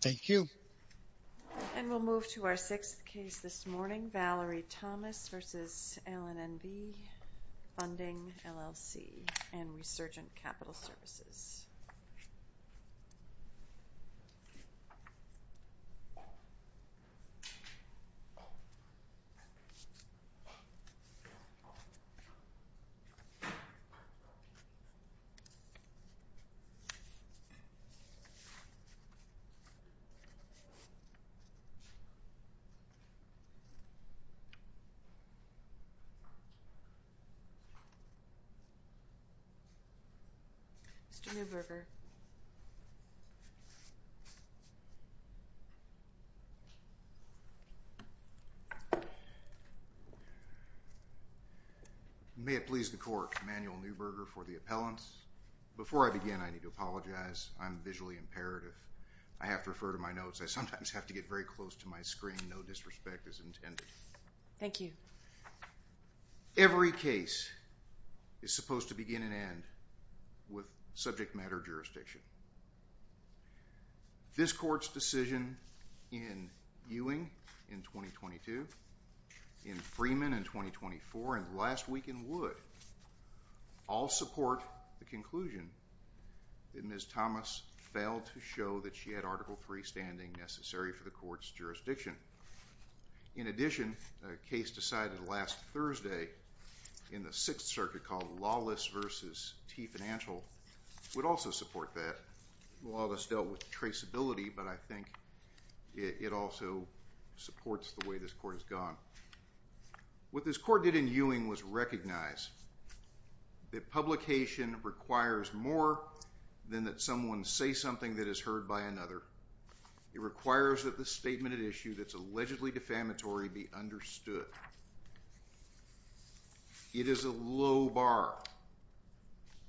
Thank you. And we'll move to our sixth case this morning, Valerie Thomas v. LNNV Funding, LLC and Resurgent Capital Services. Mr. Neuberger. May it please the Court, Emanuel Neuberger for the appellants. Before I begin, I need to apologize. I'm visually imperative. I have to refer to my notes. I sometimes have to get very close to my screen. No disrespect is intended. Thank you. Every case is supposed to begin and end with subject matter jurisdiction. This Court's decision in Ewing in 2022, in Freeman in 2024, and last week in Wood all support the conclusion that Ms. Thomas failed to show that she had Article III standing necessary for the Court's jurisdiction. In addition, a case decided last Thursday in the Sixth Circuit called Lawless v. T Financial would also support that. Lawless dealt with traceability, but I think it also supports the way this Court has gone. What this Court did in Ewing was recognize that publication requires more than that someone say something that is heard by another. It requires that the statement at issue that's allegedly defamatory be understood. It is a low bar,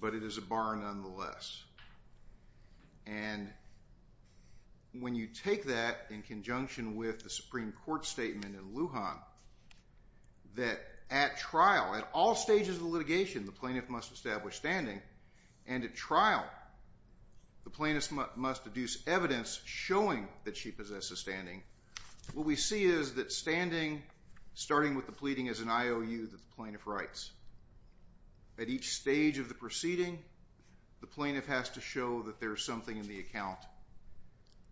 but it is a bar nonetheless. When you take that in conjunction with the Supreme Court statement in Lujan that at trial, at all stages of litigation, the plaintiff must establish standing, and at trial the plaintiff must deduce evidence showing that she possesses standing, what we see is that standing, starting with the pleading as an IOU that the plaintiff writes. At each stage of the proceeding, the plaintiff has to show that there is something in the account,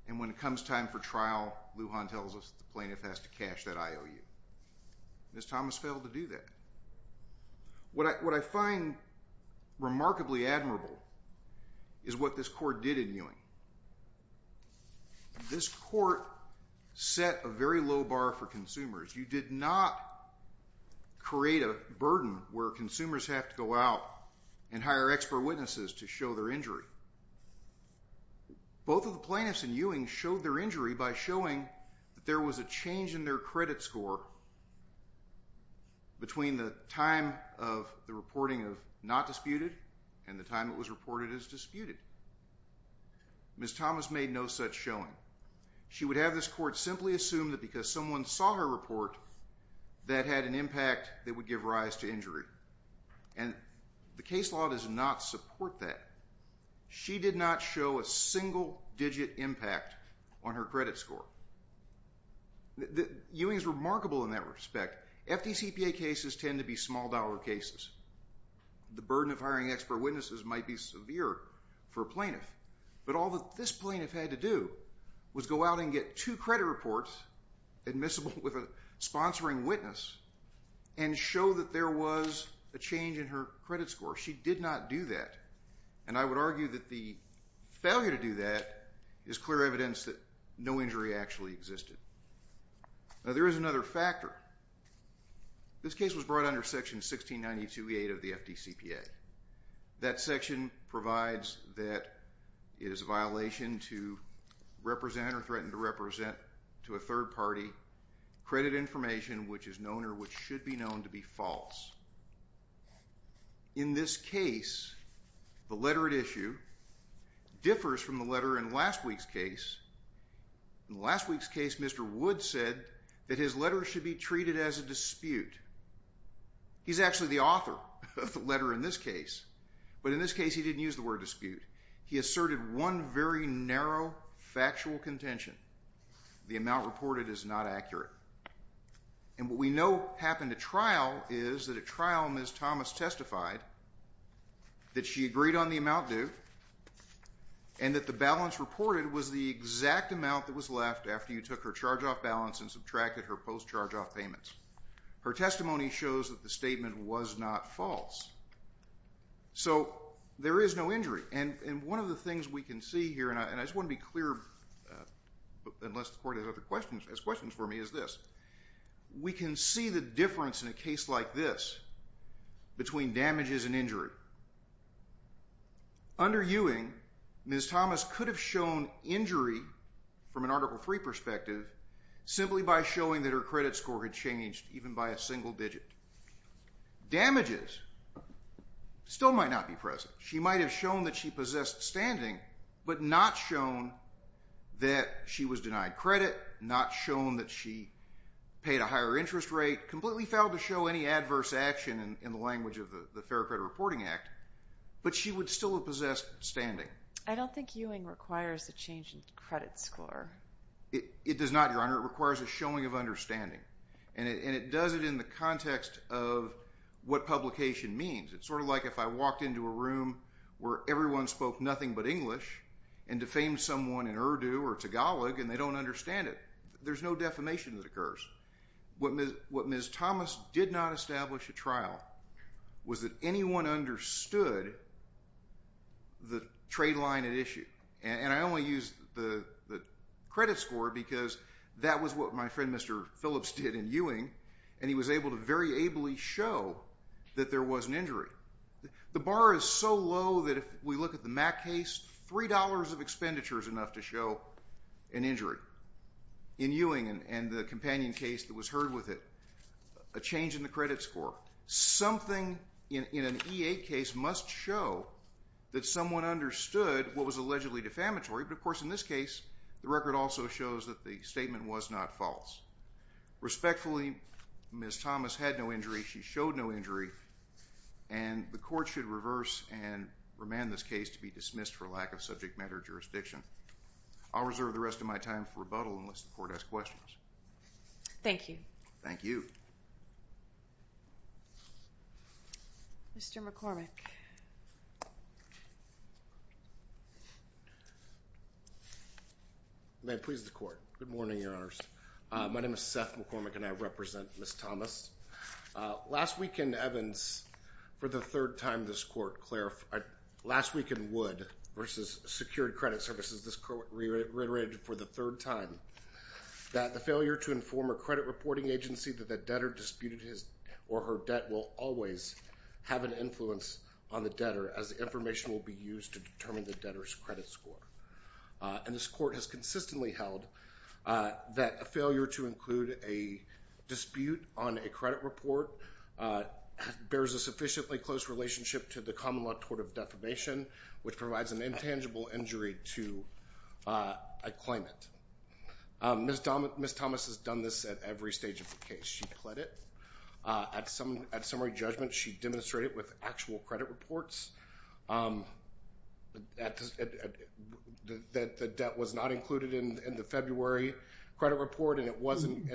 and when it comes time for trial, Lujan tells us the plaintiff has to cash that IOU. Ms. Thomas failed to do that. What I find remarkably admirable is what this Court did in Ewing. This Court set a very low bar for consumers. You did not create a burden where consumers have to go out and hire expert witnesses to show their injury. Both of the plaintiffs in Ewing showed their injury by showing that there was a change in their credit score between the time of the reporting of not disputed and the time it was reported as disputed. Ms. Thomas made no such showing. She would have this Court simply assume that because someone saw her report, that had an impact that would give rise to injury. The case law does not support that. She did not show a single-digit impact on her credit score. Ewing is remarkable in that respect. FDCPA cases tend to be small-dollar cases. The burden of hiring expert witnesses might be severe for a plaintiff, but all that this plaintiff had to do was go out and get two credit reports admissible with a sponsoring witness and show that there was a change in her credit score. She did not do that. And I would argue that the failure to do that is clear evidence that no injury actually existed. Now, there is another factor. This case was brought under Section 1692A of the FDCPA. That section provides that it is a violation to represent or threaten to represent to a third party credit information which is known or which should be known to be false. In this case, the letter at issue differs from the letter in last week's case. In last week's case, Mr. Wood said that his letter should be treated as a dispute. He's actually the author of the letter in this case, but in this case he didn't use the word dispute. He asserted one very narrow factual contention. The amount reported is not accurate. And what we know happened at trial is that at trial Ms. Thomas testified that she agreed on the amount due and that the balance reported was the exact amount that was left after you took her charge-off balance and subtracted her post-charge-off payments. Her testimony shows that the statement was not false. So there is no injury. And one of the things we can see here, and I just want to be clear, unless the Court has questions for me, is this. We can see the difference in a case like this between damages and injury. Under Ewing, Ms. Thomas could have shown injury from an Article III perspective simply by showing that her credit score had changed even by a single digit. Damages still might not be present. She might have shown that she possessed standing, but not shown that she was denied credit, not shown that she paid a higher interest rate, completely failed to show any adverse action in the language of the Fair Credit Reporting Act, but she would still have possessed standing. I don't think Ewing requires a change in credit score. It does not, Your Honor. It requires a showing of understanding. And it does it in the context of what publication means. It's sort of like if I walked into a room where everyone spoke nothing but English and defamed someone in Urdu or Tagalog and they don't understand it. There's no defamation that occurs. What Ms. Thomas did not establish at trial was that anyone understood the trade line at issue. And I only used the credit score because that was what my friend Mr. Phillips did in Ewing, and he was able to very ably show that there was an injury. The bar is so low that if we look at the Mack case, $3 of expenditure is enough to show an injury. In Ewing and the companion case that was heard with it, a change in the credit score. Something in an E-8 case must show that someone understood what was allegedly defamatory, but, of course, in this case the record also shows that the statement was not false. Respectfully, Ms. Thomas had no injury. She showed no injury, and the court should reverse and remand this case to be dismissed for lack of subject matter jurisdiction. I'll reserve the rest of my time for rebuttal unless the court has questions. Thank you. Thank you. Mr. McCormick. May it please the court. Good morning, Your Honors. My name is Seth McCormick, and I represent Ms. Thomas. Last week in Evans, for the third time this court clarified, last week in Wood versus secured credit services, this court reiterated for the third time that the failure to inform a credit reporting agency that the debtor disputed his or her debt will always have an influence on the debtor as the information will be used to determine the debtor's credit score. And this court has consistently held that a failure to include a dispute on a credit report bears a sufficiently close relationship to the common law tort of defamation, which provides an intangible injury to a claimant. Ms. Thomas has done this at every stage of the case. She pled it. At summary judgment, she demonstrated with actual credit reports that the debt was not included in the February credit report and it wasn't.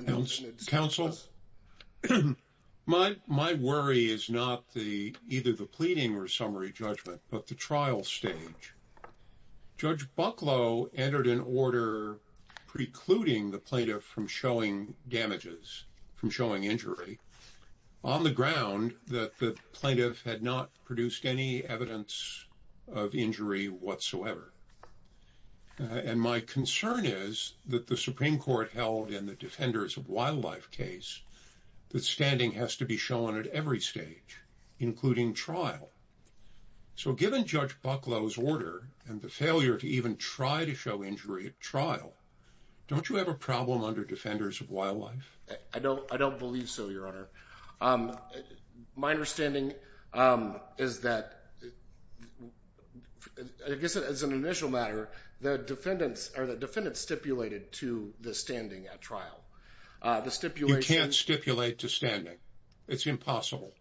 Counsel, my worry is not either the pleading or summary judgment, but the trial stage. Judge Bucklow entered an order precluding the plaintiff from showing damages, from showing injury, on the ground that the plaintiff had not produced any evidence of injury whatsoever. And my concern is that the Supreme Court held in the Defenders of Wildlife case that standing has to be shown at every stage, including trial. So given Judge Bucklow's order and the failure to even try to show injury at trial, don't you have a problem under Defenders of Wildlife? I don't believe so, Your Honor. My understanding is that, I guess as an initial matter, the defendants stipulated to the standing at trial. You can't stipulate to standing. It's impossible.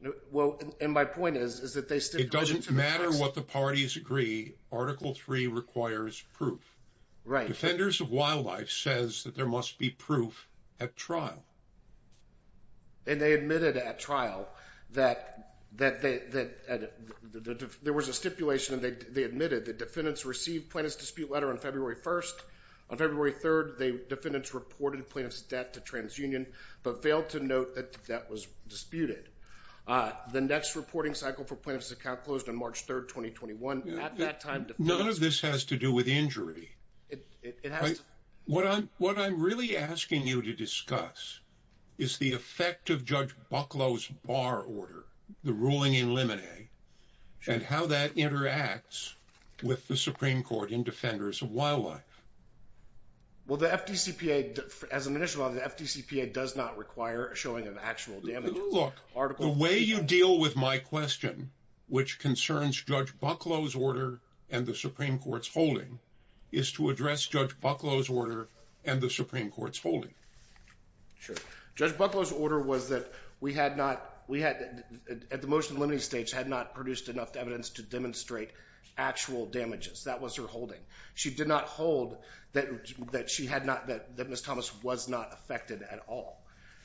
And my point is that they stipulated to the standing. It doesn't matter what the parties agree. Article III requires proof. Right. Defenders of Wildlife says that there must be proof at trial. And they admitted at trial that there was a stipulation and they admitted that defendants received plaintiff's dispute letter on February 1st. On February 3rd, the defendants reported plaintiff's debt to TransUnion but failed to note that that was disputed. The next reporting cycle for plaintiff's account closed on March 3rd, 2021. None of this has to do with injury. It has to. What I'm really asking you to discuss is the effect of Judge Bucklow's bar order, the ruling in limine, and how that interacts with the Supreme Court in Defenders of Wildlife. Well, the FDCPA, as an initial, the FDCPA does not require a showing of actual damages. Look, the way you deal with my question, which concerns Judge Bucklow's order and the Supreme Court's holding, is to address Judge Bucklow's order and the Supreme Court's holding. Sure. Judge Bucklow's order was that we had not, at the motion limiting stage, had not produced enough evidence to demonstrate actual damages. That was her holding. She did not hold that Ms. Thomas was not affected at all.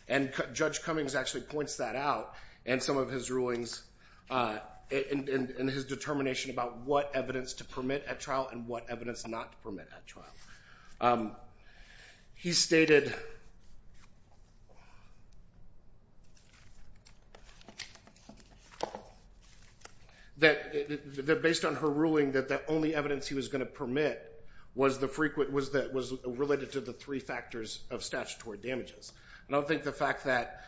And Judge Cummings actually points that out in some of his rulings, in his determination about what evidence to permit at trial and what evidence not to permit at trial. He stated that, based on her ruling, that the only evidence he was going to permit was related to the three factors of statutory damages. And I don't think the fact that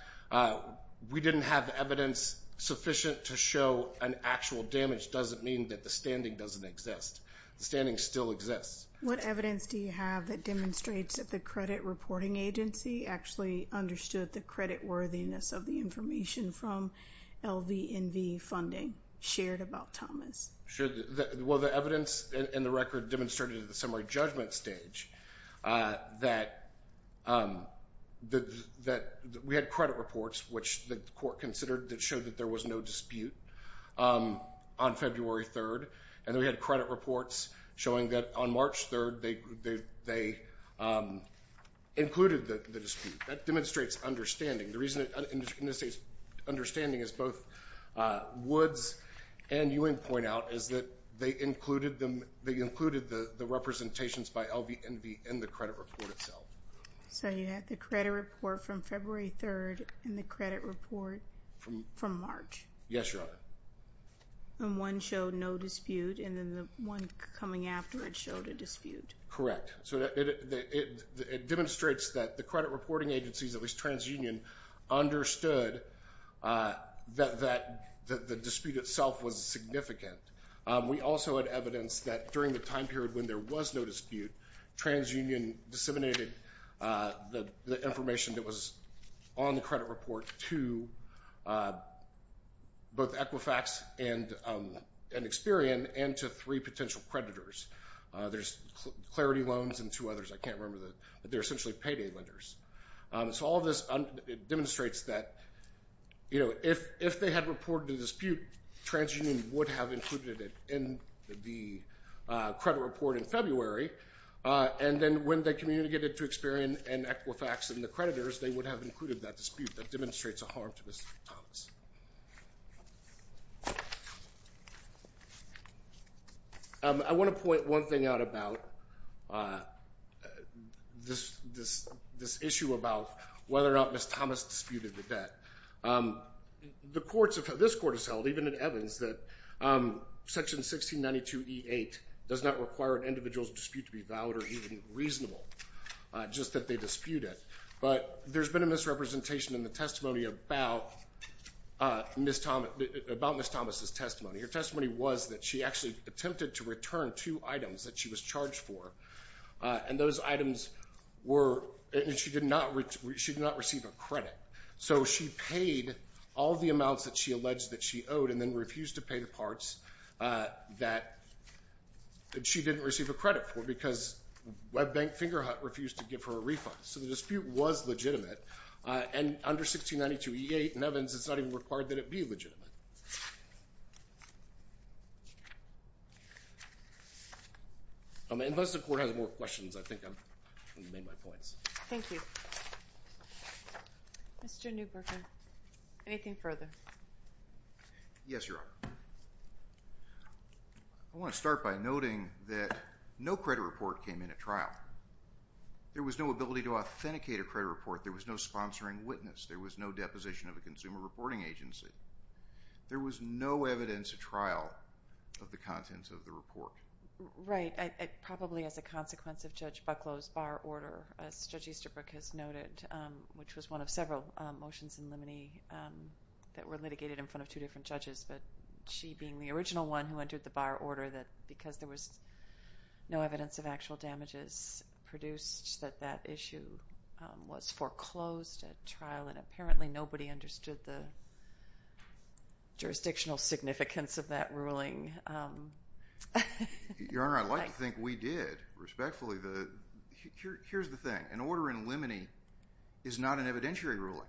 we didn't have evidence sufficient to show an actual damage doesn't mean that the standing doesn't exist. The standing still exists. What evidence do you have that demonstrates that the credit reporting agency actually understood the creditworthiness of the information from LVNV funding shared about Thomas? Sure. Well, the evidence in the record demonstrated at the summary judgment stage that we had credit reports, which the court considered that showed that there was no dispute on February 3rd. And we had credit reports showing that on March 3rd they included the dispute. That demonstrates understanding. The reason it necessitates understanding, as both Woods and Ewing point out, is that they included the representations by LVNV in the credit report itself. So you had the credit report from February 3rd and the credit report from March. Yes, Your Honor. And one showed no dispute, and then the one coming after it showed a dispute. Correct. So it demonstrates that the credit reporting agencies, at least TransUnion, understood that the dispute itself was significant. We also had evidence that during the time period when there was no dispute, TransUnion disseminated the information that was on the credit report to both Equifax and Experian and to three potential creditors. There's Clarity Loans and two others. I can't remember. They're essentially payday lenders. So all of this demonstrates that, you know, if they had reported a dispute, TransUnion would have included it in the credit report in February, and then when they communicated to Experian and Equifax and the creditors, they would have included that dispute. That demonstrates a harm to Mr. Thomas. I want to point one thing out about this issue about whether or not Ms. Thomas disputed the debt. This court has held, even in Evans, that Section 1692E8 does not require an individual's dispute to be valid or even reasonable, just that they dispute it. But there's been a misrepresentation in the testimony about Ms. Thomas's testimony. Her testimony was that she actually attempted to return two items that she was charged for, and those items were – and she did not receive a credit. So she paid all of the amounts that she alleged that she owed and then refused to pay the parts that she didn't receive a credit for because Web Bank Fingerhut refused to give her a refund. So the dispute was legitimate, and under 1692E8 in Evans, it's not even required that it be legitimate. Unless the Court has more questions, I think I've made my points. Thank you. Mr. Newburger, anything further? Yes, Your Honor. I want to start by noting that no credit report came in at trial. There was no ability to authenticate a credit report. There was no sponsoring witness. There was no deposition of a consumer reporting agency. There was no evidence at trial of the contents of the report. Right. Probably as a consequence of Judge Bucklow's bar order, as Judge Easterbrook has noted, which was one of several motions in limine that were litigated in front of two different judges, but she being the original one who entered the bar order, that because there was no evidence of actual damages produced, that that issue was foreclosed at trial, and apparently nobody understood the jurisdictional significance of that ruling. Your Honor, I'd like to think we did, respectfully. Here's the thing. An order in limine is not an evidentiary ruling.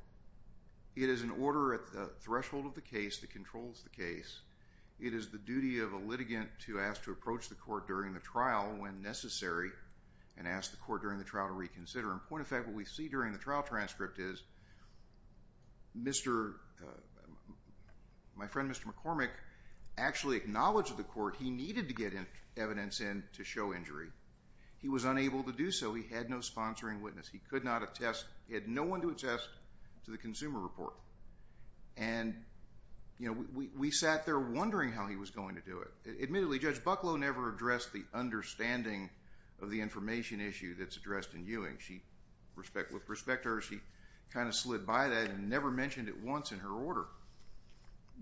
It is an order at the threshold of the case that controls the case. It is the duty of a litigant to ask to approach the court during the trial when necessary and ask the court during the trial to reconsider. In point of fact, what we see during the trial transcript is my friend, Mr. McCormick, actually acknowledged to the court he needed to get evidence in to show injury. He was unable to do so. He had no sponsoring witness. He had no one to attest to the consumer report. And, you know, we sat there wondering how he was going to do it. Admittedly, Judge Bucklow never addressed the understanding of the information issue that's addressed in Ewing. With respect to her, she kind of slid by that and never mentioned it once in her order.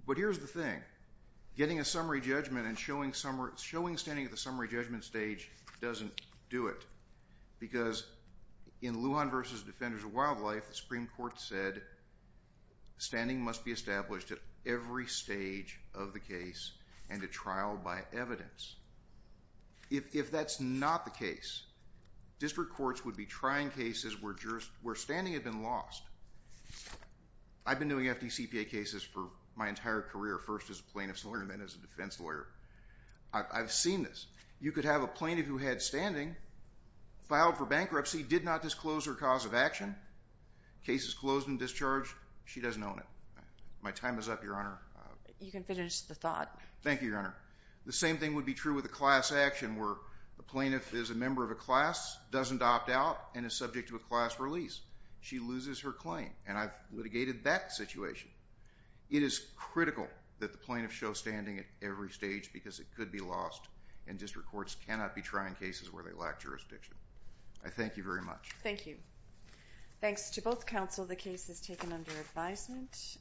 But here's the thing. Getting a summary judgment and showing standing at the summary judgment stage doesn't do it because in Lujan v. Defenders of Wildlife, the Supreme Court said standing must be established at every stage of the case and at trial by evidence. If that's not the case, district courts would be trying cases where standing had been lost. I've been doing FDCPA cases for my entire career, first as a plaintiff's lawyer and then as a defense lawyer. I've seen this. You could have a plaintiff who had standing, filed for bankruptcy, did not disclose her cause of action, case is closed and discharged, she doesn't own it. My time is up, Your Honor. You can finish the thought. Thank you, Your Honor. The same thing would be true with a class action where a plaintiff is a member of a class, doesn't opt out, and is subject to a class release. She loses her claim, and I've litigated that situation. It is critical that the plaintiff show standing at every stage because it could be lost, and district courts cannot be trying cases where they lack jurisdiction. I thank you very much. Thank you. Thanks to both counsel. The case is taken under advisement.